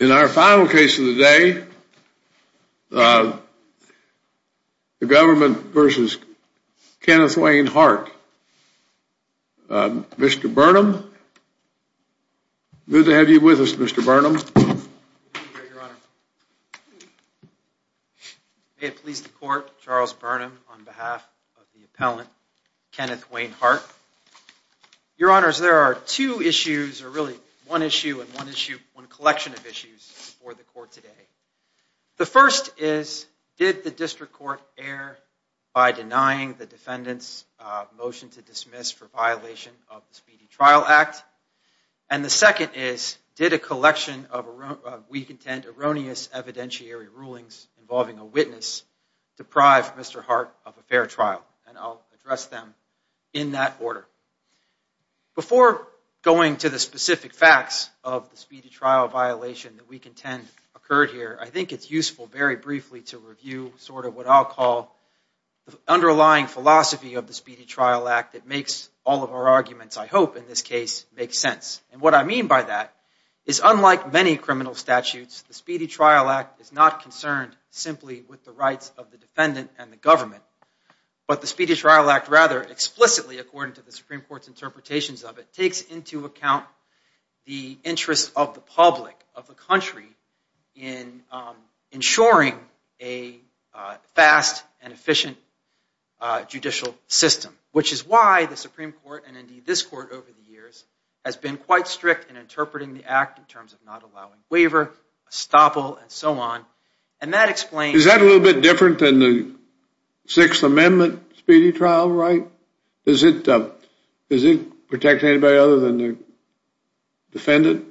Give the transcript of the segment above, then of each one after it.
In our final case of the day, the government v. Kenneth Wayne Hart. Mr. Burnham, good to have you with us, Mr. Burnham. May it please the court, Charles Burnham on behalf of the appellant, Kenneth Wayne Hart. Your honors, there are two issues, or really one issue and one collection of issues before the court today. The first is, did the district court err by denying the defendant's motion to dismiss for violation of the Speedy Trial Act? And the second is, did a collection of weak intent, erroneous evidentiary rulings involving a witness deprive Mr. Hart of a fair trial? And I'll address them in that order. Before going to the specific facts of the speedy trial violation that we contend occurred here, I think it's useful very briefly to review sort of what I'll call the underlying philosophy of the Speedy Trial Act that makes all of our arguments, I hope in this case, make sense. And what I mean by that is unlike many criminal statutes, the Speedy Trial Act is not concerned simply with the rights of the defendant and the government. But the Speedy Trial Act rather, explicitly according to the Supreme Court's interpretations of it, takes into account the interests of the public, of the country, in ensuring a fast and efficient judicial system. Which is why the Supreme Court, and indeed this court over the years, has been quite strict in interpreting the act in terms of not allowing waiver, estoppel, and so on. And that explains... Is that a little bit different than the Sixth Amendment Speedy Trial Right? Is it protecting anybody other than the defendant?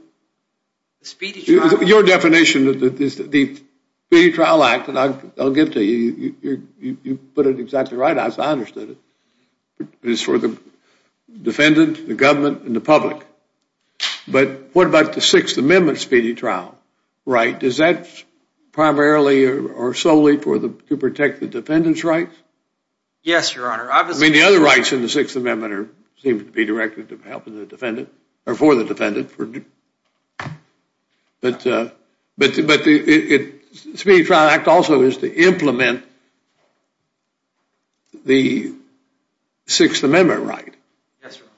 The Speedy Trial... Your definition of the Speedy Trial Act, and I'll get to you, you put it exactly right, as I understood it. It's for the defendant, the government, and the public. But what about the Sixth Amendment Speedy Trial Right? Is that primarily or solely to protect the defendant's rights? Yes, Your Honor. I mean, the other rights in the Sixth Amendment seem to be directed for the defendant. But the Speedy Trial Act also is to implement the Sixth Amendment right. Yes, Your Honor.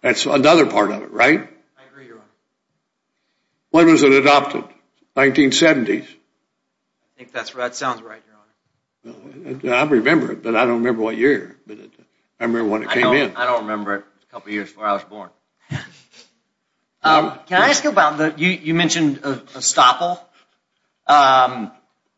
That's another part of it, right? I agree, Your Honor. When was it adopted? 1970s. I think that sounds right, Your Honor. I remember it, but I don't remember what year. I remember when it came in. I don't remember it. A couple years before I was born. Can I ask you about... You mentioned estoppel.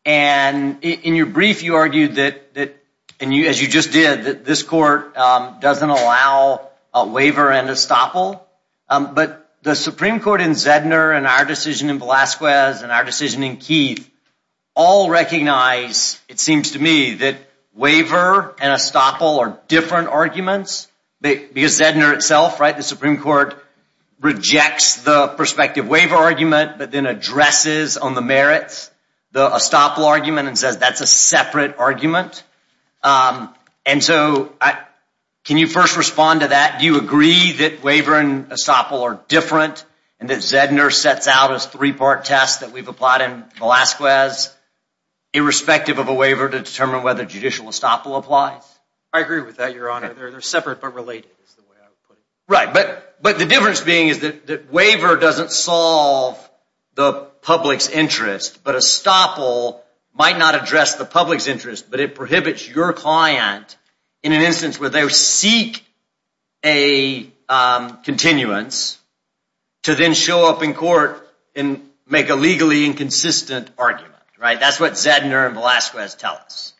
And in your brief, you argued that, as you just did, that this court doesn't allow a waiver and estoppel. But the Supreme Court in Zedner and our decision in Velazquez and our decision in Keith all recognize, it seems to me, that waiver and estoppel are different arguments. Because Zedner itself, right, the Supreme Court rejects the prospective waiver argument, but then addresses on the merits the estoppel argument and says that's a separate argument. And so can you first respond to that? Do you agree that waiver and estoppel are different and that Zedner sets out as three-part tests that we've applied in Velazquez, irrespective of a waiver, to determine whether judicial estoppel applies? I agree with that, Your Honor. They're separate but related is the way I would put it. Right, but the difference being is that waiver doesn't solve the public's interest, but estoppel might not address the public's interest, but it prohibits your client in an instance where they seek a continuance to then show up in court and make a legally inconsistent argument, right? That's what Zedner and Velazquez tell us.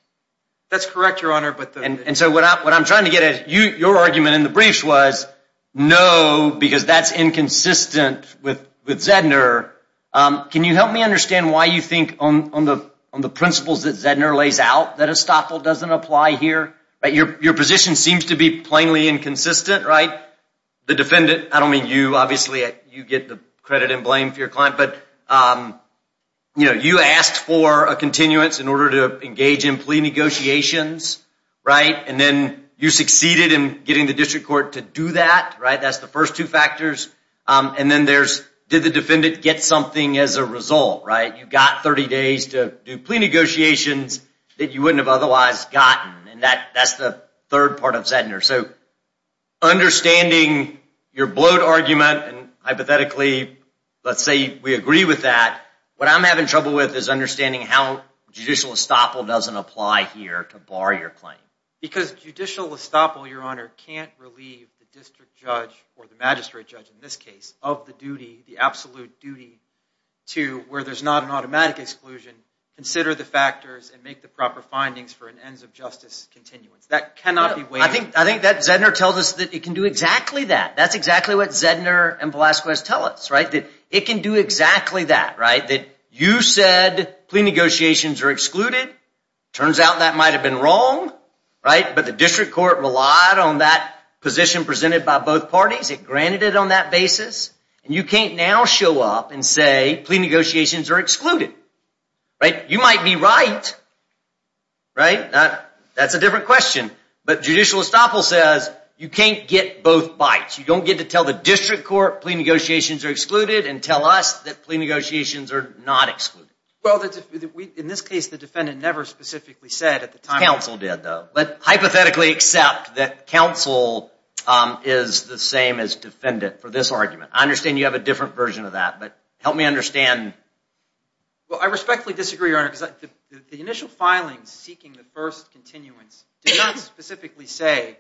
That's correct, Your Honor. And so what I'm trying to get at, your argument in the briefs was, no, because that's inconsistent with Zedner. Can you help me understand why you think on the principles that Zedner lays out that estoppel doesn't apply here? Right, your position seems to be plainly inconsistent, right? The defendant, I don't mean you, obviously you get the credit and blame for your client, but you asked for a continuance in order to engage in plea negotiations, right? And then you succeeded in getting the district court to do that, right? That's the first two factors. And then there's did the defendant get something as a result, right? You got 30 days to do plea negotiations that you wouldn't have otherwise gotten. And that's the third part of Zedner. So understanding your bloat argument, and hypothetically, let's say we agree with that, what I'm having trouble with is understanding how judicial estoppel doesn't apply here to bar your claim. Because judicial estoppel, Your Honor, can't relieve the district judge, or the magistrate judge in this case, of the duty, the absolute duty, to where there's not an automatic exclusion, consider the factors, and make the proper findings for an ends of justice continuance. That cannot be waived. I think that Zedner tells us that it can do exactly that. That's exactly what Zedner and Velazquez tell us, right? That it can do exactly that, right? That you said plea negotiations are excluded. Turns out that might have been wrong, right? But the district court relied on that position presented by both parties. It granted it on that basis. And you can't now show up and say plea negotiations are excluded, right? You might be right, right? That's a different question. But judicial estoppel says you can't get both bites. You don't get to tell the district court plea negotiations are excluded, and tell us that plea negotiations are not excluded. Well, in this case, the defendant never specifically said at the time. Counsel did, though. But hypothetically, accept that counsel is the same as defendant for this argument. I understand you have a different version of that. But help me understand. Well, I respectfully disagree, Your Honor, because the initial filing seeking the first continuance did not specifically say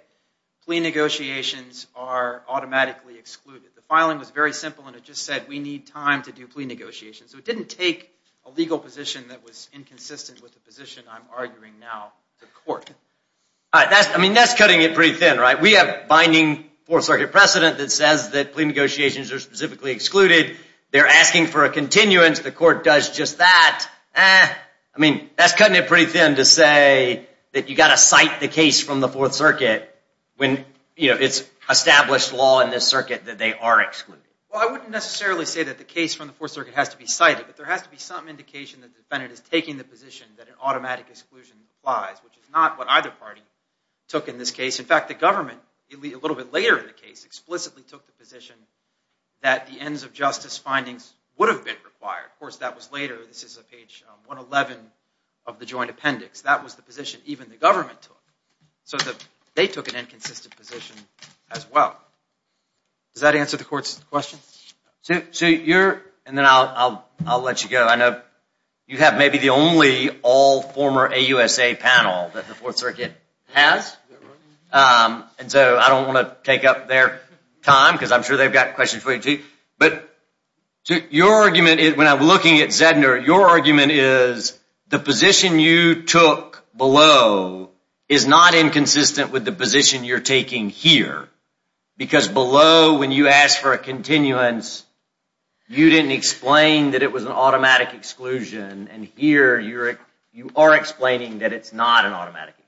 plea negotiations are automatically excluded. The filing was very simple, and it just said we need time to do plea negotiations. So it didn't take a legal position that was inconsistent with the position I'm arguing now to court. I mean, that's cutting it pretty thin, right? We have binding Fourth Circuit precedent that says that plea negotiations are specifically excluded. They're asking for a continuance. The court does just that. I mean, that's cutting it pretty thin to say that you've got to cite the case from the Fourth Circuit when it's established law in this circuit that they are excluded. Well, I wouldn't necessarily say that the case from the Fourth Circuit has to be cited, but there has to be some indication that the defendant is taking the position that an automatic exclusion applies, which is not what either party took in this case. In fact, the government, a little bit later in the case, explicitly took the position that the ends of justice findings would have been required. Of course, that was later. This is on page 111 of the joint appendix. That was the position even the government took. So they took an inconsistent position as well. Does that answer the court's question? So you're, and then I'll let you go. I know you have maybe the only all former AUSA panel that the Fourth Circuit has. And so I don't want to take up their time because I'm sure they've got questions for you too. But your argument, when I'm looking at Zedner, your argument is the position you took below is not inconsistent with the position you're taking here because below when you asked for a continuance, you didn't explain that it was an automatic exclusion. And here you are explaining that it's not an automatic exclusion.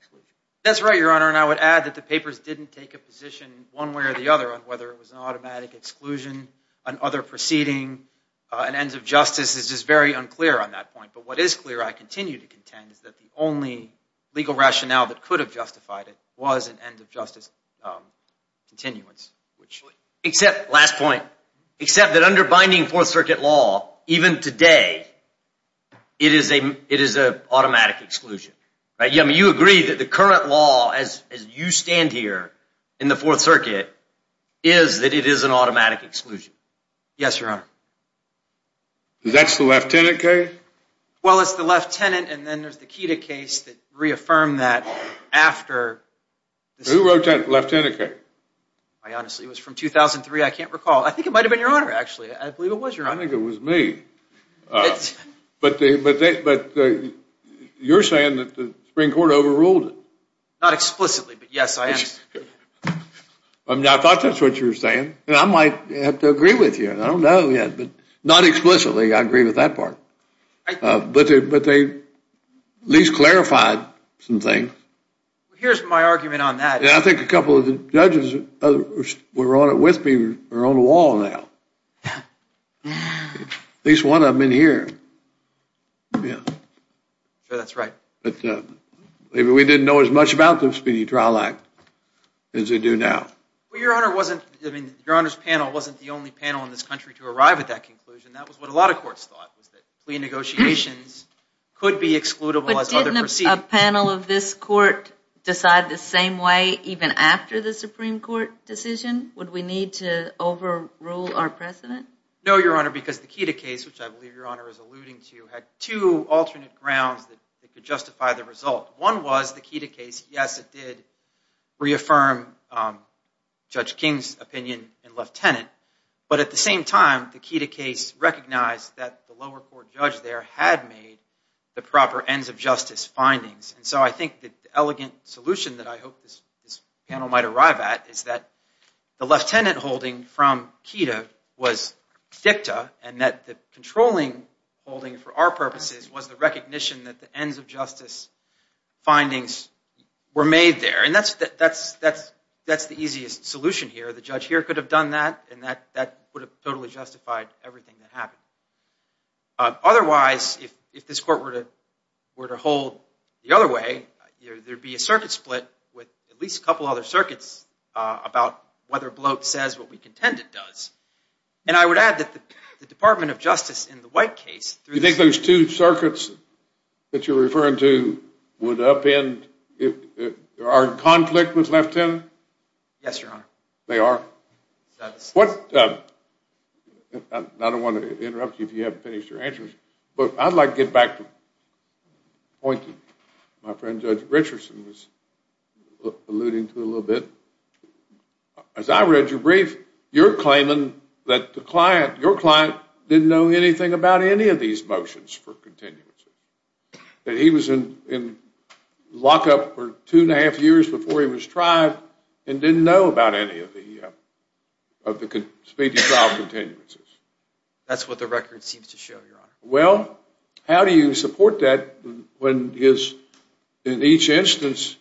That's right, Your Honor. And I would add that the papers didn't take a position one way or the other on whether it was an automatic exclusion, an other proceeding. An ends of justice is just very unclear on that point. But what is clear, I continue to contend, is that the only legal rationale that could have justified it was an ends of justice continuance. Except, last point, except that under binding Fourth Circuit law, even today, it is an automatic exclusion. You agree that the current law as you stand here in the Fourth Circuit is that it is an automatic exclusion. Yes, Your Honor. That's the Lieutenant case? Well, it's the Lieutenant and then there's the Keita case that reaffirmed that after. Who wrote that Lieutenant case? Honestly, it was from 2003. I can't recall. I think it might have been Your Honor, actually. I believe it was Your Honor. I think it was me. But you're saying that the Supreme Court overruled it? Not explicitly, but yes, I am. I thought that's what you were saying. I might have to agree with you. I don't know yet, but not explicitly I agree with that part. But they at least clarified some things. Here's my argument on that. I think a couple of the judges who were on it with me are on the wall now. At least one of them in here. I'm sure that's right. Maybe we didn't know as much about the Speedy Trial Act as we do now. Your Honor's panel wasn't the only panel in this country to arrive at that conclusion. That was what a lot of courts thought, was that plea negotiations could be excludable as other proceedings. Would a panel of this court decide the same way even after the Supreme Court decision? Would we need to overrule our precedent? No, Your Honor, because the Keita case, which I believe Your Honor is alluding to, had two alternate grounds that could justify the result. One was the Keita case. Yes, it did reaffirm Judge King's opinion in Lieutenant. But at the same time, the Keita case recognized that the lower court judge there had made the proper ends-of-justice findings. So I think the elegant solution that I hope this panel might arrive at is that the lieutenant holding from Keita was dicta, and that the controlling holding for our purposes was the recognition that the ends-of-justice findings were made there. That's the easiest solution here. The judge here could have done that, and that would have totally justified everything that happened. Otherwise, if this court were to hold the other way, there would be a circuit split with at least a couple other circuits about whether Bloat says what we contend it does. And I would add that the Department of Justice in the White case, Do you think those two circuits that you're referring to would upend if our conflict was left in? Yes, Your Honor. They are? I don't want to interrupt you if you haven't finished your answers, but I'd like to get back to the point that my friend Judge Richardson was alluding to a little bit. As I read your brief, you're claiming that your client didn't know anything about any of these motions for continuance, that he was in lockup for two and a half years before he was tried and didn't know about any of the speedy trial continuances. That's what the record seems to show, Your Honor. Well, how do you support that when, in each instance,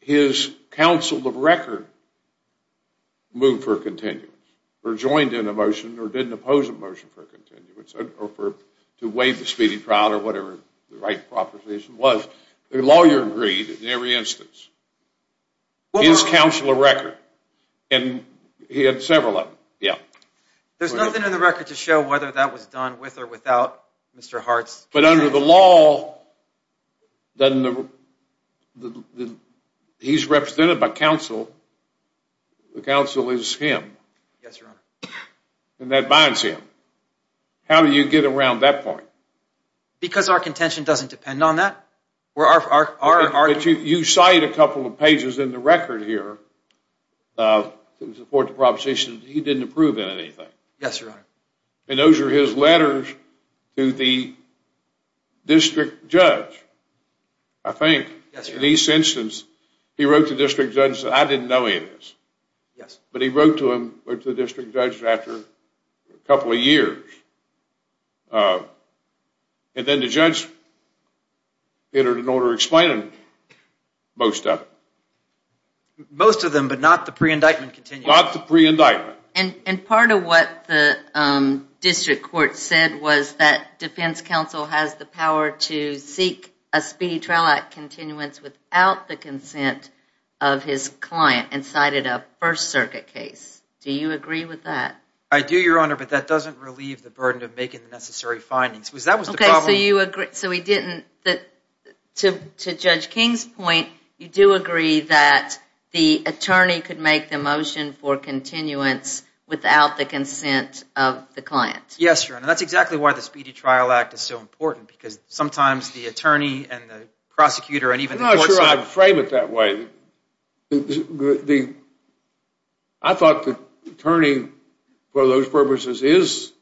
his counsel of record moved for a continuance or joined in a motion or didn't oppose a motion for a continuance or to waive the speedy trial or whatever the right proposition was? The lawyer agreed in every instance. His counsel of record, and he had several of them. Yeah. There's nothing in the record to show whether that was done with or without Mr. Hart's consent. But under the law, he's represented by counsel. The counsel is him. Yes, Your Honor. And that binds him. How do you get around that point? Because our contention doesn't depend on that. You cite a couple of pages in the record here to support the proposition that he didn't approve of anything. Yes, Your Honor. And those are his letters to the district judge, I think. Yes, Your Honor. In each instance, he wrote to the district judge and said, I didn't know any of this. Yes. But he wrote to him or to the district judge after a couple of years. And then the judge entered an order explaining most of it. Most of them, but not the pre-indictment continuance. Not the pre-indictment. And part of what the district court said was that defense counsel has the power to seek a speedy trial act continuance without the consent of his client and cited a First Circuit case. Do you agree with that? I do, Your Honor. But that doesn't relieve the burden of making the necessary findings. That was the problem. Okay. So you agree. So he didn't. To Judge King's point, you do agree that the attorney could make the motion for continuance without the consent of the client. Yes, Your Honor. That's exactly why the Speedy Trial Act is so important. Because sometimes the attorney and the prosecutor and even the court I'm not sure I'd frame it that way. I thought the attorney for those purposes is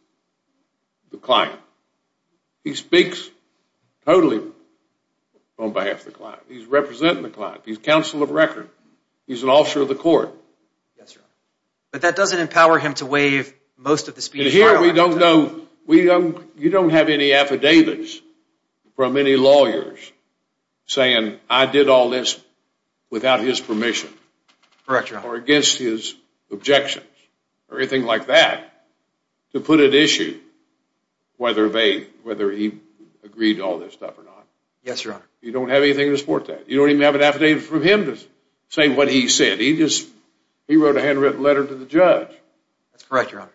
the client. He speaks totally on behalf of the client. He's representing the client. He's counsel of record. He's an officer of the court. Yes, Your Honor. But that doesn't empower him to waive most of the Speedy Trial Act. And here we don't know. You don't have any affidavits from any lawyers saying I did all this without his permission. Correct, Your Honor. Or against his objections or anything like that to put at issue whether he agreed to all this stuff or not. Yes, Your Honor. You don't have anything to support that. You don't even have an affidavit from him to say what he said. He wrote a handwritten letter to the judge. That's correct, Your Honor.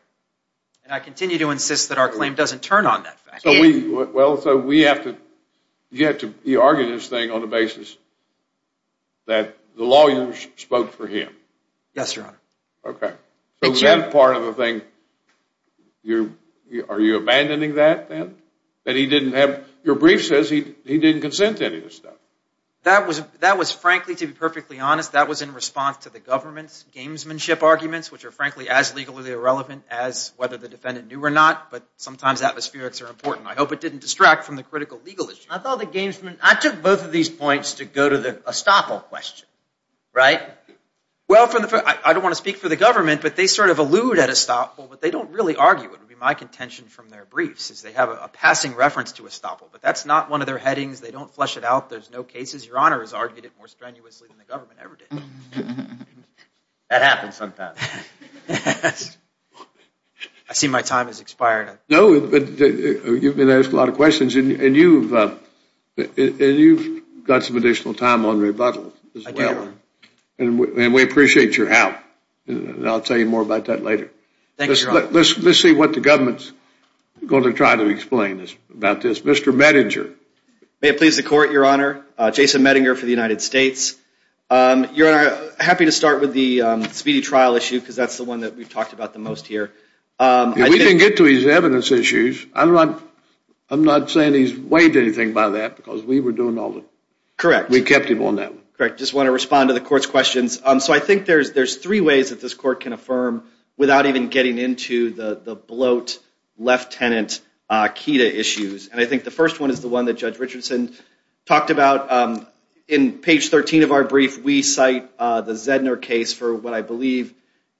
And I continue to insist that our claim doesn't turn on that fact. So we have to argue this thing on the basis that the lawyers spoke for him. Yes, Your Honor. Okay. So that part of the thing, are you abandoning that then? Your brief says he didn't consent to any of this stuff. That was frankly, to be perfectly honest, that was in response to the government's gamesmanship arguments, which are frankly as legally irrelevant as whether the defendant knew or not. But sometimes atmospherics are important. I hope it didn't distract from the critical legal issue. I took both of these points to go to the estoppel question, right? Well, I don't want to speak for the government, but they sort of allude at estoppel, but they don't really argue. It would be my contention from their briefs is they have a passing reference to estoppel. But that's not one of their headings. They don't flesh it out. There's no cases. Your Honor has argued it more strenuously than the government ever did. That happens sometimes. I see my time has expired. No, but you've been asked a lot of questions, and you've got some additional time on rebuttal as well. I do, Your Honor. And we appreciate your help. And I'll tell you more about that later. Thank you, Your Honor. Let's see what the government's going to try to explain about this. Mr. Medinger. May it please the Court, Your Honor. Jason Medinger for the United States. Your Honor, I'm happy to start with the Speedy Trial issue because that's the one that we've talked about the most here. We can get to his evidence issues. I'm not saying he's waived anything by that because we were doing all the work. Correct. We kept him on that one. Correct. I just want to respond to the Court's questions. So I think there's three ways that this Court can affirm without even getting into the bloat, Lieutenant Kida issues. And I think the first one is the one that Judge Richardson talked about. In page 13 of our brief, we cite the Zedner case for what I believe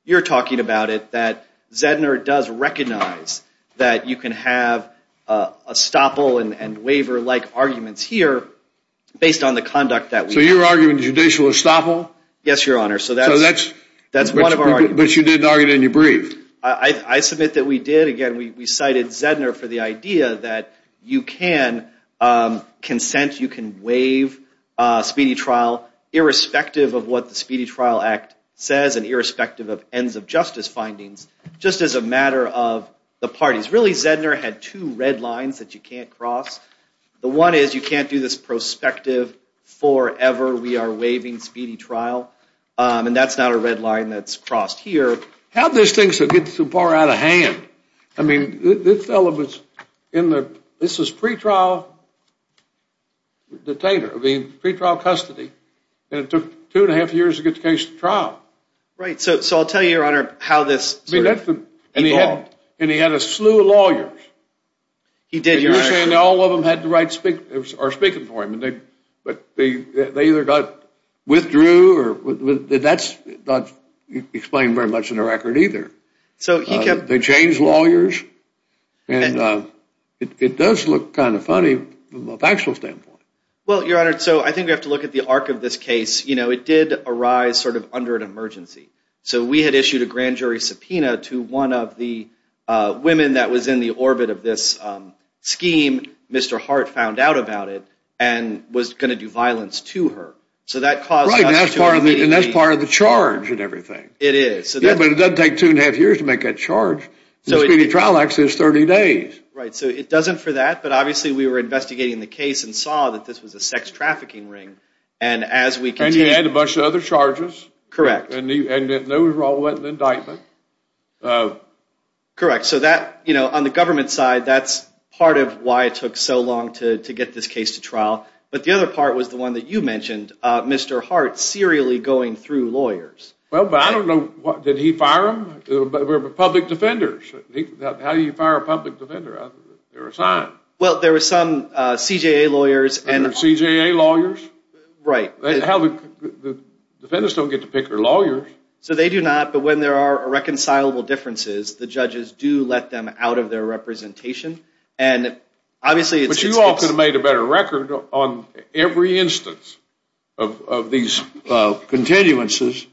you're talking about it, that Zedner does recognize that you can have estoppel and waiver-like arguments here based on the conduct that we have. So you're arguing judicial estoppel? Yes, Your Honor. So that's one of our arguments. But you didn't argue it in your brief. I submit that we did. Again, we cited Zedner for the idea that you can consent, you can waive speedy trial irrespective of what the Speedy Trial Act says and irrespective of ends of justice findings, just as a matter of the parties. Really, Zedner had two red lines that you can't cross. The one is you can't do this prospective forever we are waiving speedy trial, and that's not a red line that's crossed here. How did this thing get so far out of hand? I mean, this fellow was in the pre-trial detainer, pre-trial custody, and it took two and a half years to get the case to trial. Right. So I'll tell you, Your Honor, how this evolved. And he had a slew of lawyers. He did, Your Honor. And all of them are speaking for him. But they either got withdrew or that's not explained very much in the record either. They changed lawyers. And it does look kind of funny from a factual standpoint. Well, Your Honor, so I think we have to look at the arc of this case. You know, it did arise sort of under an emergency. So we had issued a grand jury subpoena to one of the women that was in the orbit of this scheme. Mr. Hart found out about it and was going to do violence to her. Right, and that's part of the charge and everything. It is. Yeah, but it doesn't take two and a half years to make that charge. The speedy trial actually is 30 days. Right, so it doesn't for that, but obviously we were investigating the case and saw that this was a sex trafficking ring. And he had a bunch of other charges. Correct. And those all went in indictment. Correct. So that, you know, on the government side, that's part of why it took so long to get this case to trial. But the other part was the one that you mentioned, Mr. Hart serially going through lawyers. Well, but I don't know, did he fire them? They were public defenders. How do you fire a public defender? They're assigned. Well, there were some CJA lawyers. CJA lawyers? Right. The defendants don't get to pick their lawyers. So they do not, but when there are irreconcilable differences, the judges do let them out of their representation. But you all could have made a better record on every instance of these continuances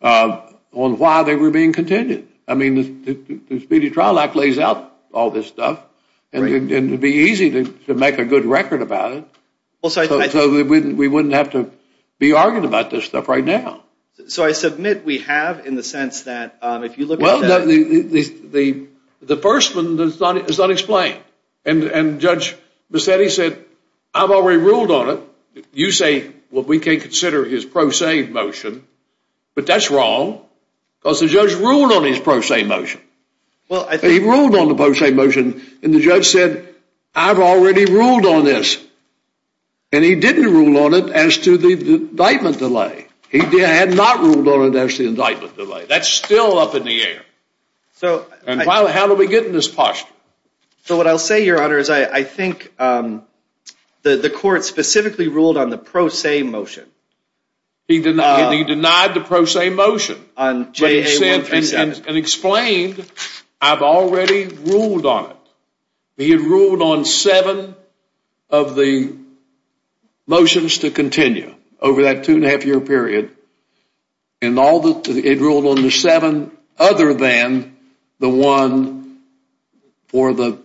on why they were being continued. I mean, the speedy trial act lays out all this stuff, and it would be easy to make a good record about it. So we wouldn't have to be arguing about this stuff right now. So I submit we have in the sense that if you look at the – Well, the first one is unexplained. And Judge Bassetti said, I've already ruled on it. You say, well, we can't consider his pro se motion. But that's wrong because the judge ruled on his pro se motion. He ruled on the pro se motion, and the judge said, I've already ruled on this. And he didn't rule on it as to the indictment delay. He had not ruled on it as to the indictment delay. That's still up in the air. And how do we get in this posture? So what I'll say, Your Honor, is I think the court specifically ruled on the pro se motion. He denied the pro se motion and explained, I've already ruled on it. He had ruled on seven of the motions to continue over that two-and-a-half-year period. And it ruled on the seven other than the one for the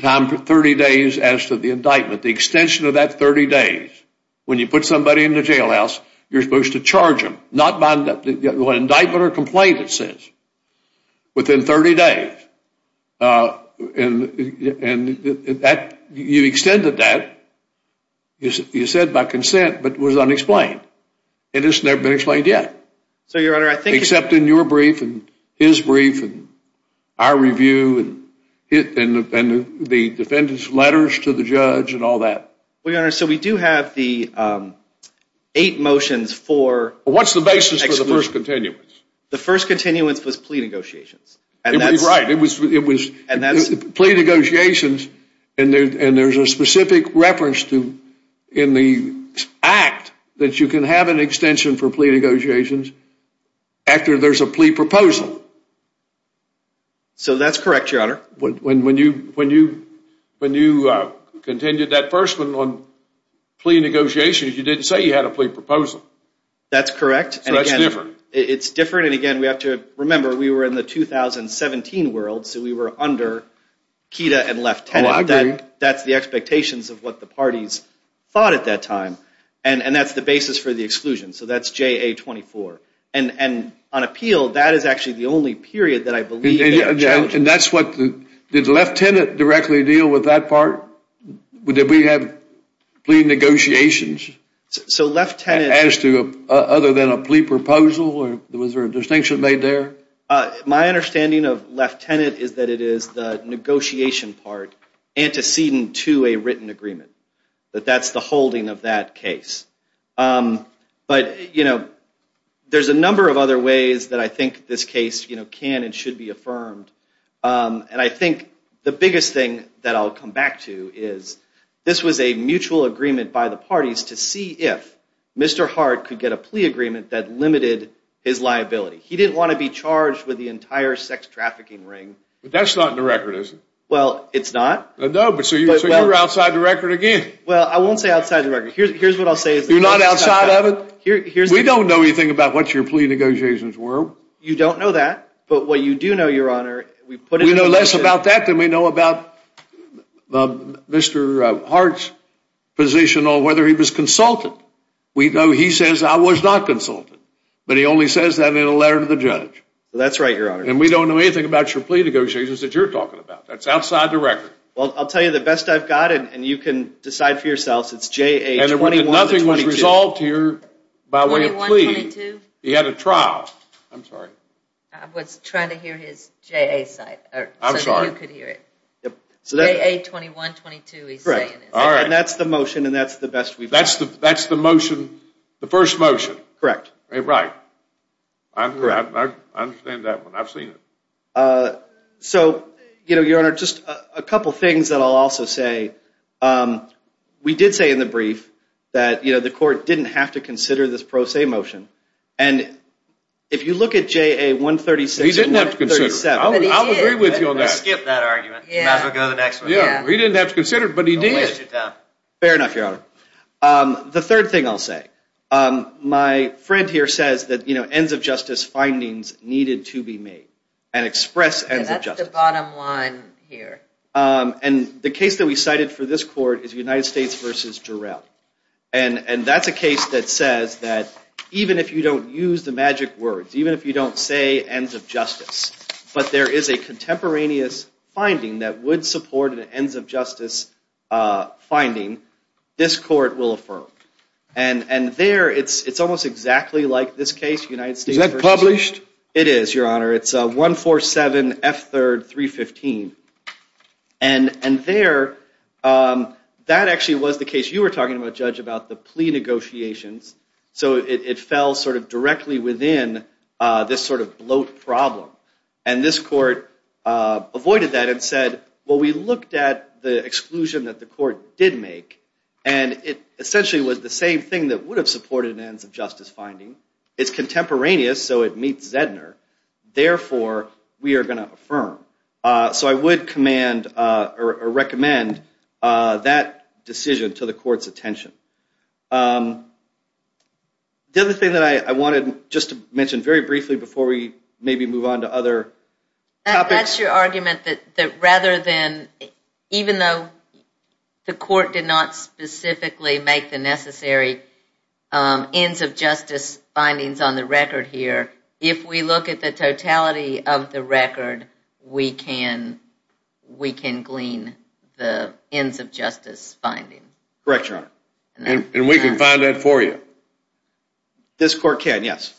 time for 30 days as to the indictment, the extension of that 30 days. When you put somebody in the jailhouse, you're supposed to charge them, not bind up the indictment or complaint, it says, within 30 days. And you extended that. You said by consent, but it was unexplained. And it's never been explained yet. Except in your brief and his brief and our review and the defendant's letters to the judge and all that. Well, Your Honor, so we do have the eight motions for exclusion. What's the basis for the first continuance? The first continuance was plea negotiations. Right. It was plea negotiations. And there's a specific reference in the act that you can have an extension for plea negotiations after there's a plea proposal. So that's correct, Your Honor. When you continued that first one on plea negotiations, you didn't say you had a plea proposal. That's correct. So that's different. It's different. And again, we have to remember, we were in the 2017 world, so we were under KEDA and Left Tenant. Oh, I agree. That's the expectations of what the parties thought at that time. And that's the basis for the exclusion. So that's JA-24. And on appeal, that is actually the only period that I believe they have changed. And that's what the – did Left Tenant directly deal with that part? Did we have plea negotiations? So Left Tenant – Other than a plea proposal? Was there a distinction made there? My understanding of Left Tenant is that it is the negotiation part antecedent to a written agreement, that that's the holding of that case. But, you know, there's a number of other ways that I think this case can and should be affirmed. And I think the biggest thing that I'll come back to is this was a mutual agreement by the parties to see if Mr. Hart could get a plea agreement that limited his liability. He didn't want to be charged with the entire sex trafficking ring. But that's not in the record, is it? Well, it's not. No, but so you're outside the record again. Well, I won't say outside the record. Here's what I'll say. You're not outside of it? We don't know anything about what your plea negotiations were. You don't know that. But what you do know, Your Honor – We know less about that than we know about Mr. Hart's position on whether he was consulted. We know he says, I was not consulted. But he only says that in a letter to the judge. That's right, Your Honor. And we don't know anything about your plea negotiations that you're talking about. That's outside the record. Well, I'll tell you the best I've got, and you can decide for yourselves. It's J.A. 21-22. And nothing was resolved here by way of plea. 21-22? He had a trial. I'm sorry. I was trying to hear his J.A. side. I'm sorry. So that you could hear it. J.A. 21-22, he's saying. Correct. All right. And that's the motion, and that's the best we've got. That's the motion, the first motion? Correct. Right. I'm correct. I understand that one. I've seen it. So, you know, Your Honor, just a couple things that I'll also say. We did say in the brief that, you know, the court didn't have to consider this pro se motion. And if you look at J.A. 136 and 137. He didn't have to consider it. I'll agree with you on that. Let's skip that argument. We'll go to the next one. Yeah. He didn't have to consider it, but he did. Don't waste your time. Fair enough, Your Honor. The third thing I'll say, my friend here says that, you know, ends of justice findings needed to be made and express ends of justice. That's the bottom line here. And the case that we cited for this court is United States v. Jarrell. And that's a case that says that even if you don't use the magic words, even if you don't say ends of justice, but there is a contemporaneous finding that would support an ends of justice finding, this court will affirm. And there it's almost exactly like this case, United States v. Jarrell. Is that published? It is, Your Honor. It's 147 F. 3rd 315. And there, that actually was the case you were talking about, Judge, about the plea negotiations. So it fell sort of directly within this sort of bloat problem. And this court avoided that and said, well, we looked at the exclusion that the court did make, and it essentially was the same thing that would have supported an ends of justice finding. It's contemporaneous, so it meets Zedner. Therefore, we are going to affirm. So I would command or recommend that decision to the court's attention. The other thing that I wanted just to mention very briefly before we maybe move on to other topics. That's your argument that rather than, even though the court did not specifically make the necessary ends of justice findings on the record here, if we look at the totality of the record, we can glean the ends of justice finding. Correct, Your Honor. And we can find that for you. This court can, yes.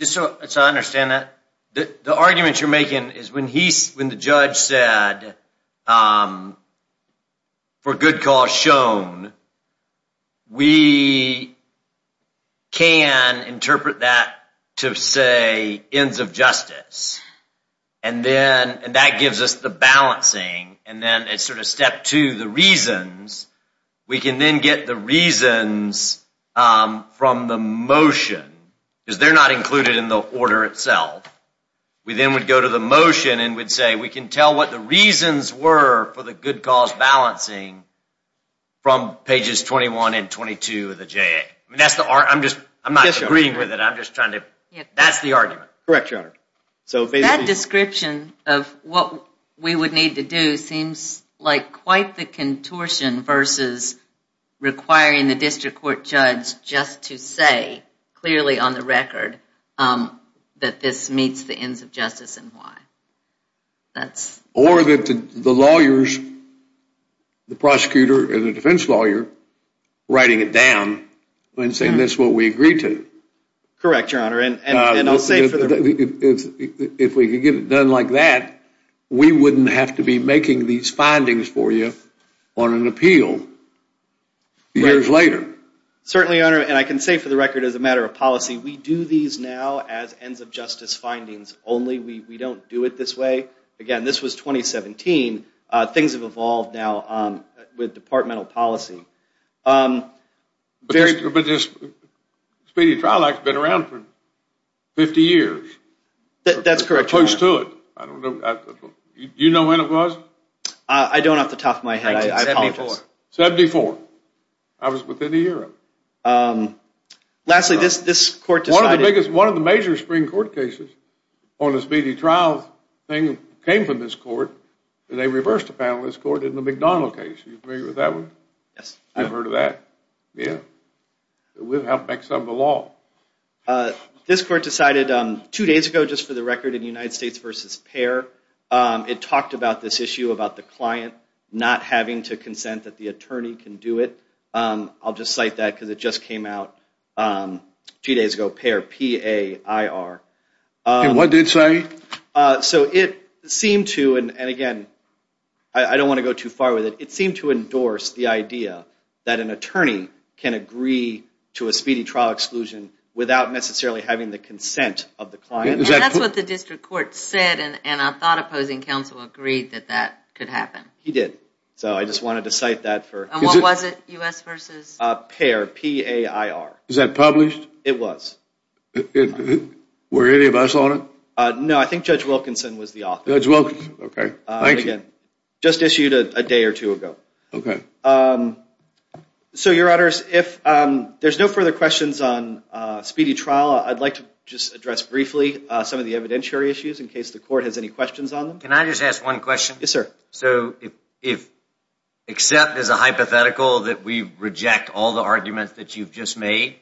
So I understand that. The argument you're making is when the judge said, for good cause shown, we can interpret that to say ends of justice. And that gives us the balancing. And then it's sort of step two, the reasons. We can then get the reasons from the motion, because they're not included in the order itself. We then would go to the motion and we'd say, we can tell what the reasons were for the good cause balancing from pages 21 and 22 of the JA. I'm not agreeing with it. That's the argument. Correct, Your Honor. That description of what we would need to do seems like quite the contortion that this meets the ends of justice and why. Or that the lawyers, the prosecutor and the defense lawyer, writing it down and saying that's what we agreed to. Correct, Your Honor. If we could get it done like that, we wouldn't have to be making these findings for you on an appeal years later. Certainly, Your Honor. And I can say for the record as a matter of policy, we do these now as ends of justice findings only. We don't do it this way. Again, this was 2017. Things have evolved now with departmental policy. Speedy Trial Act has been around for 50 years. That's correct, Your Honor. You know when it was? I don't off the top of my head. I apologize. 74. I was within a year of it. Lastly, this court decided. One of the major Supreme Court cases on the speedy trial thing came from this court. They reversed the panel in this court in the McDonald case. Are you familiar with that one? Yes. You've heard of that? Yeah. We've helped make some of the law. This court decided two days ago just for the record in United States v. Payer. It talked about this issue about the client not having to consent that the attorney can do it. I'll just cite that because it just came out two days ago. Payer, P-A-I-R. What did it say? It seemed to, and again, I don't want to go too far with it, it seemed to endorse the idea that an attorney can agree to a speedy trial exclusion without necessarily having the consent of the client. That's what the district court said. I thought opposing counsel agreed that that could happen. He did. I just wanted to cite that. What was it, U.S. v. Payer, P-A-I-R? Is that published? It was. Were any of us on it? No, I think Judge Wilkinson was the author. Judge Wilkinson, okay. Thank you. Just issued a day or two ago. Okay. So, Your Honors, if there's no further questions on speedy trial, I'd like to just address briefly some of the evidentiary issues in case the court has any questions on them. Can I just ask one question? Yes, sir. So, if accept is a hypothetical that we reject all the arguments that you've just made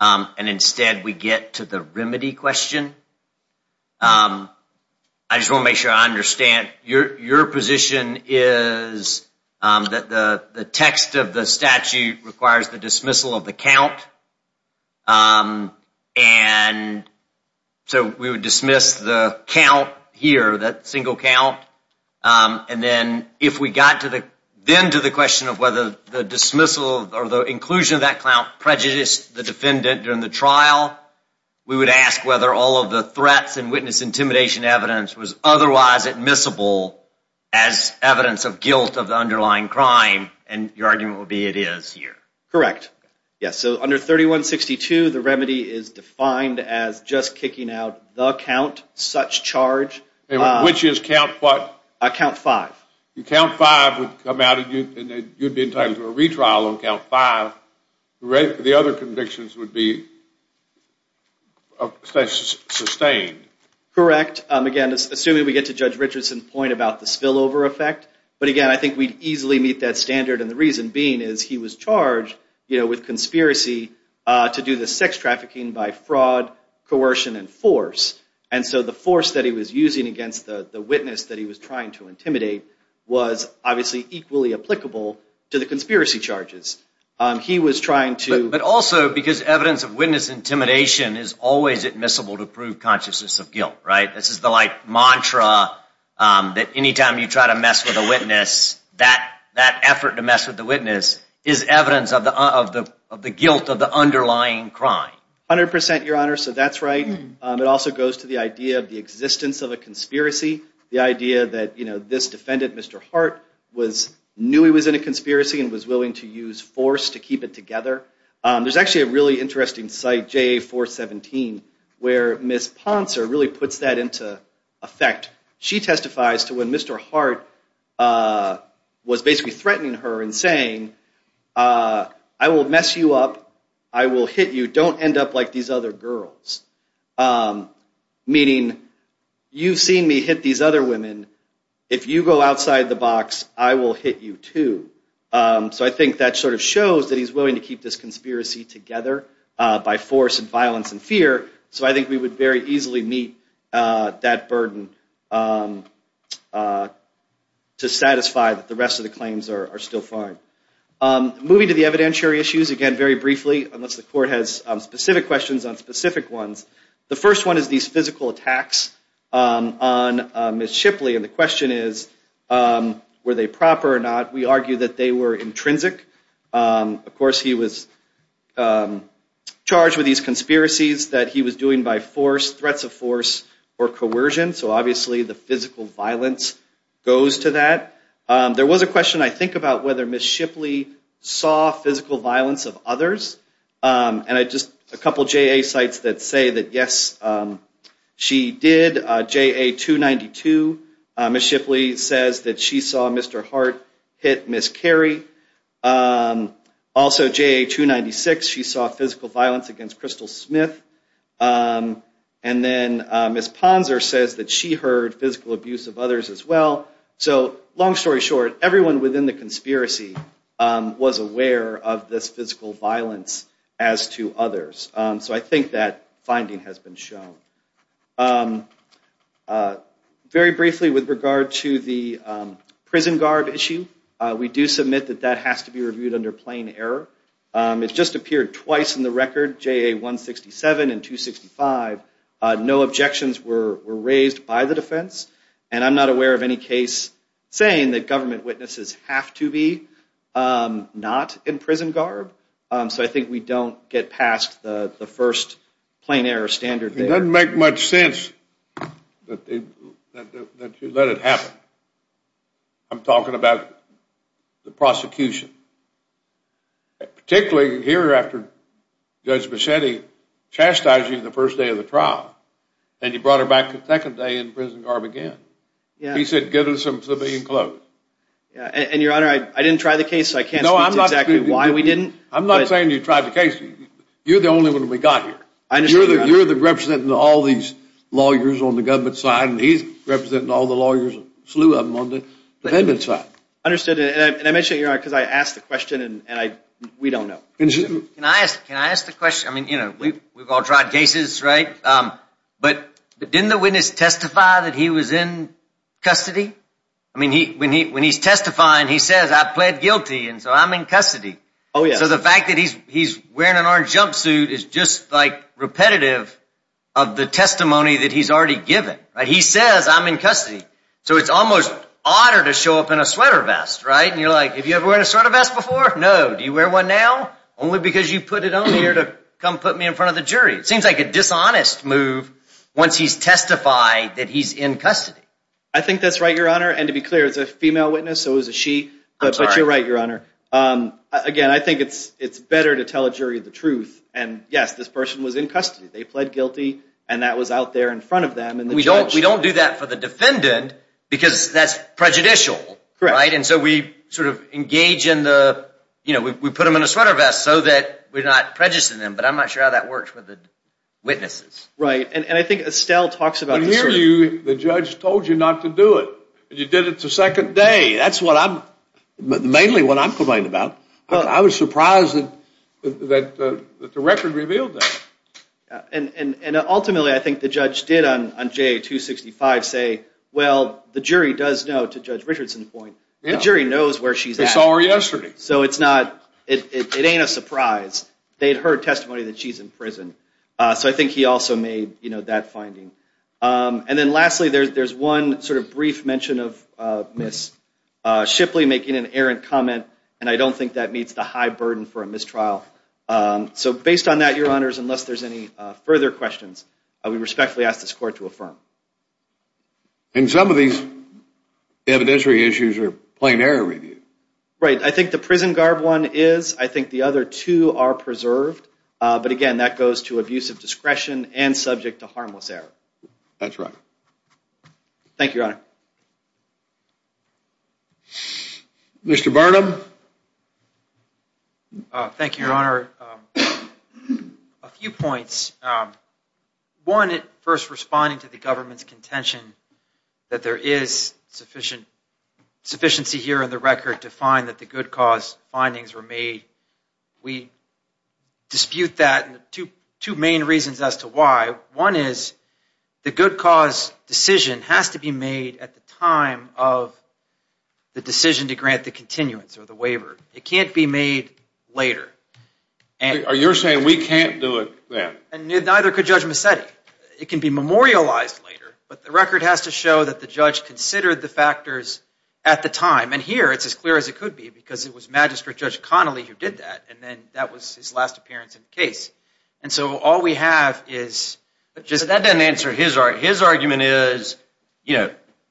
and instead we get to the remedy question, I just want to make sure I understand. Your position is that the text of the statute requires the dismissal of the count, and so we would dismiss the count here, that single count, and then if we got then to the question of whether the dismissal or the inclusion of that count prejudiced the defendant during the trial, we would ask whether all of the threats and witness intimidation evidence was otherwise admissible as evidence of guilt of the underlying crime, and your argument would be it is here. Correct. Yes. So, under 3162, the remedy is defined as just kicking out the count, such charge. Which is count what? Count five. Count five would come out and you'd be entitled to a retrial on count five. The other convictions would be sustained. Correct. Again, assuming we get to Judge Richardson's point about the spillover effect, but again, I think we'd easily meet that standard, and the reason being is he was charged with conspiracy to do the sex trafficking by fraud, coercion, and force, and so the force that he was using against the witness that he was trying to intimidate was obviously equally applicable to the conspiracy charges. He was trying to – But also, because evidence of witness intimidation is always admissible to prove consciousness of guilt, right? That effort to mess with the witness is evidence of the guilt of the underlying crime. 100%, Your Honor, so that's right. It also goes to the idea of the existence of a conspiracy, the idea that this defendant, Mr. Hart, knew he was in a conspiracy and was willing to use force to keep it together. There's actually a really interesting site, JA-417, where Ms. Ponser really puts that into effect. She testifies to when Mr. Hart was basically threatening her and saying, I will mess you up, I will hit you, don't end up like these other girls. Meaning, you've seen me hit these other women. If you go outside the box, I will hit you too. So I think that sort of shows that he's willing to keep this conspiracy together by force and violence and fear, so I think we would very easily meet that burden to satisfy that the rest of the claims are still fine. Moving to the evidentiary issues, again, very briefly, unless the Court has specific questions on specific ones. The first one is these physical attacks on Ms. Shipley, and the question is, were they proper or not? We argue that they were intrinsic. Of course, he was charged with these conspiracies that he was doing by force, threats of force, or coercion, so obviously the physical violence goes to that. There was a question, I think, about whether Ms. Shipley saw physical violence of others, and just a couple of JA sites that say that yes, she did. JA-292, Ms. Shipley says that she saw Mr. Hart hit Ms. Carey. Also JA-296, she saw physical violence against Crystal Smith. And then Ms. Ponser says that she heard physical abuse of others as well. So long story short, everyone within the conspiracy was aware of this physical violence as to others, so I think that finding has been shown. Very briefly, with regard to the prison guard issue, we do submit that that has to be reviewed under plain error. It just appeared twice in the record, JA-167 and 265. No objections were raised by the defense, and I'm not aware of any case saying that government witnesses have to be not in prison guard, so I think we don't get past the first plain error standard there. It doesn't make much sense that you let it happen. I'm talking about the prosecution, particularly here after Judge Bichetti chastised you the first day of the trial, and you brought her back the second day in prison guard again. He said, give her some civilian clothes. And your honor, I didn't try the case, so I can't speak to exactly why we didn't. I'm not saying you tried the case. You're the only one we got here. You're the representative of all these lawyers on the government side, and he's representing all the lawyers, a slew of them, on the defendants' side. Understood. And I mention it, your honor, because I asked the question, and we don't know. Can I ask the question? I mean, you know, we've all tried cases, right? But didn't the witness testify that he was in custody? I mean, when he's testifying, he says, I pled guilty, and so I'm in custody. Oh, yeah. So the fact that he's wearing an orange jumpsuit is just, like, repetitive of the testimony that he's already given. He says, I'm in custody. So it's almost odder to show up in a sweater vest, right? And you're like, have you ever worn a sweater vest before? No. Do you wear one now? Only because you put it on here to come put me in front of the jury. It seems like a dishonest move once he's testified that he's in custody. I think that's right, your honor. And to be clear, it's a female witness, so it was a she. I'm sorry. But you're right, your honor. Again, I think it's better to tell a jury the truth. And, yes, this person was in custody. They pled guilty, and that was out there in front of them, and the judge We don't do that for the defendant because that's prejudicial, right? Correct. And so we sort of engage in the, you know, we put them in a sweater vest so that we're not prejudicing them. But I'm not sure how that works with the witnesses. Right. And I think Estelle talks about this. I hear you. The judge told you not to do it, but you did it the second day. That's what I'm – mainly what I'm complaining about. I was surprised that the record revealed that. And ultimately, I think the judge did on J265 say, well, the jury does know, to Judge Richardson's point, the jury knows where she's at. They saw her yesterday. So it's not – it ain't a surprise. They had heard testimony that she's in prison. So I think he also made, you know, that finding. And then lastly, there's one sort of brief mention of Miss Shipley making an errant comment, and I don't think that meets the high burden for a mistrial. So based on that, Your Honors, unless there's any further questions, I would respectfully ask this Court to affirm. And some of these evidentiary issues are plain error review. Right. I think the prison guard one is. I think the other two are preserved. But, again, that goes to abusive discretion and subject to harmless error. That's right. Thank you, Your Honor. Mr. Barnum. Thank you, Your Honor. A few points. One, first responding to the government's contention that there is sufficient – sufficiency here in the record to find that the good cause findings were made. We dispute that. Two main reasons as to why. One is the good cause decision has to be made at the time of the decision to grant the continuance or the waiver. It can't be made later. You're saying we can't do it then? And neither could Judge Massetti. It can be memorialized later, but the record has to show that the judge considered the factors at the time. And here it's as clear as it could be because it was Magistrate Judge Connolly who did that, and then that was his last appearance in the case. All we have is – That doesn't answer his argument.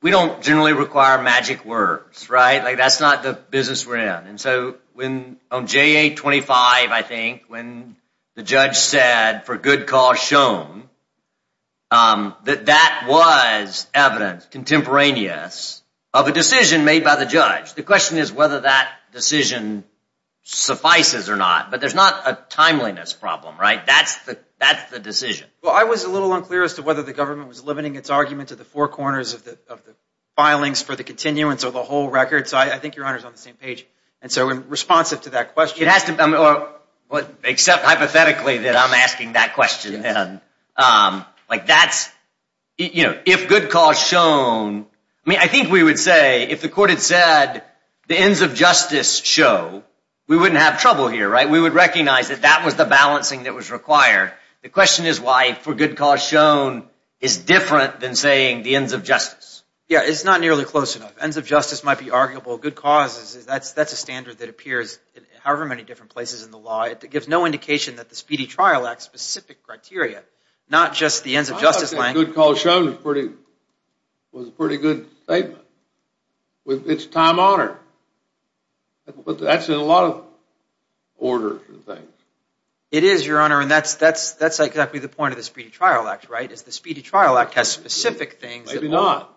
We don't generally require magic words. That's not the business we're in. On JA-25, I think, when the judge said, for good cause shown, that that was evidence contemporaneous of a decision made by the judge. The question is whether that decision suffices or not. But there's not a timeliness problem, right? That's the decision. Well, I was a little unclear as to whether the government was limiting its argument to the four corners of the filings for the continuance or the whole record, so I think Your Honor is on the same page. And so responsive to that question – Except hypothetically that I'm asking that question. That's – if good cause shown – I think we would say if the court had said the ends of justice show, we wouldn't have trouble here, right? We would recognize that that was the balancing that was required. The question is why for good cause shown is different than saying the ends of justice. Yeah, it's not nearly close enough. Ends of justice might be arguable. Good cause is – that's a standard that appears in however many different places in the law. It gives no indication that the Speedy Trial Act's specific criteria, not just the ends of justice – I don't think good cause shown was a pretty good statement. It's time-honored. That's in a lot of orders and things. It is, Your Honor, and that's exactly the point of the Speedy Trial Act, right? The Speedy Trial Act has specific things – Maybe not.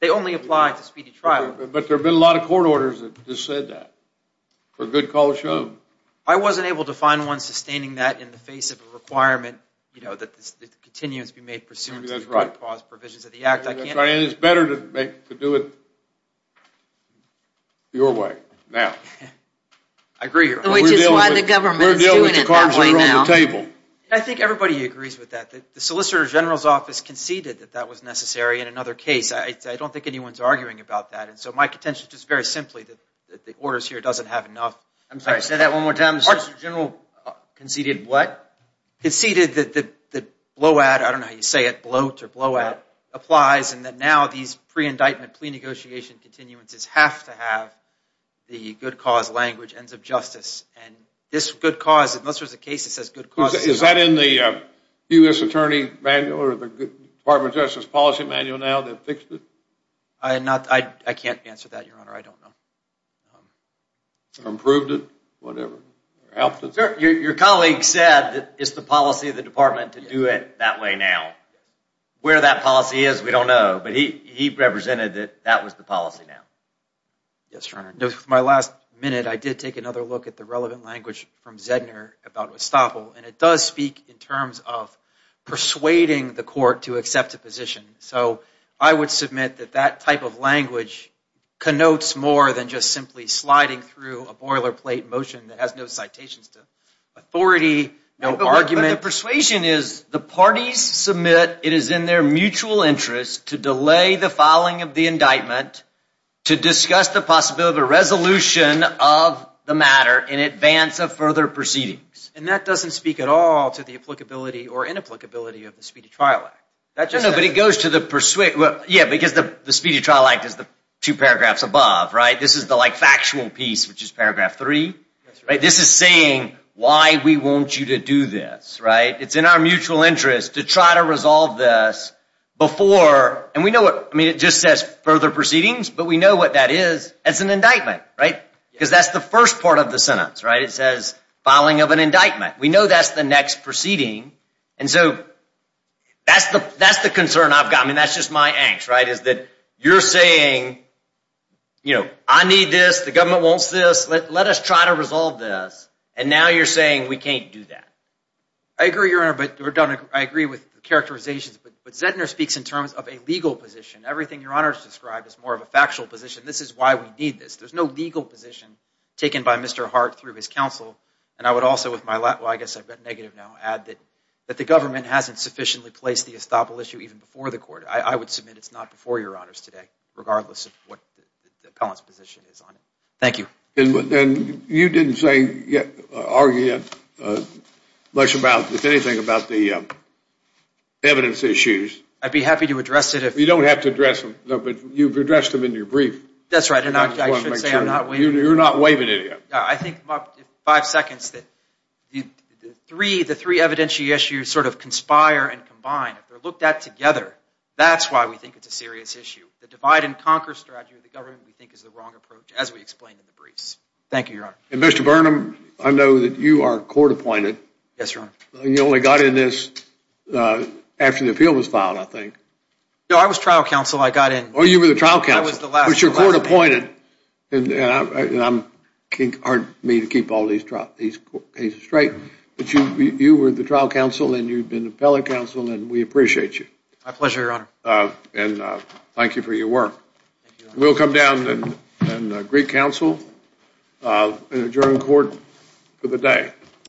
They only apply to speedy trial. But there have been a lot of court orders that just said that. For good cause shown. I wasn't able to find one sustaining that in the face of a requirement And it's better to do it your way now. I agree, Your Honor. Which is why the government is doing it that way now. I think everybody agrees with that. The Solicitor General's office conceded that that was necessary in another case. I don't think anyone's arguing about that. And so my contention is just very simply that the orders here doesn't have enough – I'm sorry, say that one more time. The Solicitor General conceded what? Conceded that the blowout – I don't know how you say it, bloat or blowout – applies and that now these pre-indictment plea negotiation continuances have to have the good cause language, ends of justice. And this good cause, unless there's a case that says good cause – Is that in the U.S. Attorney manual or the Department of Justice policy manual now that fixed it? I can't answer that, Your Honor. I don't know. Improved it? Whatever. Your colleague said it's the policy of the department to do it that way now. Where that policy is, we don't know. But he represented that that was the policy now. Yes, Your Honor. With my last minute, I did take another look at the relevant language from Zegner about Westapol, and it does speak in terms of persuading the court to accept a position. So I would submit that that type of language connotes more than just simply sliding through a boilerplate motion that has no citations to authority, no argument. But the persuasion is the parties submit it is in their mutual interest to delay the filing of the indictment to discuss the possibility of a resolution of the matter in advance of further proceedings. And that doesn't speak at all to the applicability or inapplicability of the Speedy Trial Act. But it goes to the – yeah, because the Speedy Trial Act is the two paragraphs above, right? This is the factual piece, which is paragraph three. This is saying why we want you to do this, right? It's in our mutual interest to try to resolve this before – and we know what – I mean, it just says further proceedings, but we know what that is as an indictment, right? Because that's the first part of the sentence, right? It says filing of an indictment. We know that's the next proceeding. And so that's the concern I've got. I mean, that's just my angst, right, is that you're saying, you know, I need this. The government wants this. Let us try to resolve this. And now you're saying we can't do that. I agree, Your Honor, but I agree with the characterizations. But Zegner speaks in terms of a legal position. Everything Your Honor has described is more of a factual position. This is why we need this. There's no legal position taken by Mr. Hart through his counsel. And I would also, with my – well, I guess I've got negative now – add that the government hasn't sufficiently placed the estoppel issue even before the court. I would submit it's not before Your Honors today, regardless of what the appellant's position is on it. Thank you. And you didn't say – argue much about, if anything, about the evidence issues. I'd be happy to address it if – You don't have to address them. No, but you've addressed them in your brief. That's right. And I should say I'm not – You're not waiving it yet. I think in five seconds that the three evidentiary issues sort of conspire and combine. If they're looked at together, that's why we think it's a serious issue. The divide-and-conquer strategy of the government, we think, is the wrong approach, as we explained in the briefs. Thank you, Your Honor. And Mr. Burnham, I know that you are court-appointed. Yes, Your Honor. You only got in this after the appeal was filed, I think. No, I was trial counsel. I got in – Oh, you were the trial counsel. I was the last – But you're court-appointed. And I'm – it's hard for me to keep all these cases straight. But you were the trial counsel, and you've been the appellate counsel, and we appreciate you. My pleasure, Your Honor. And thank you for your work. Thank you, Your Honor. We'll come down and greet counsel and adjourn court for the day.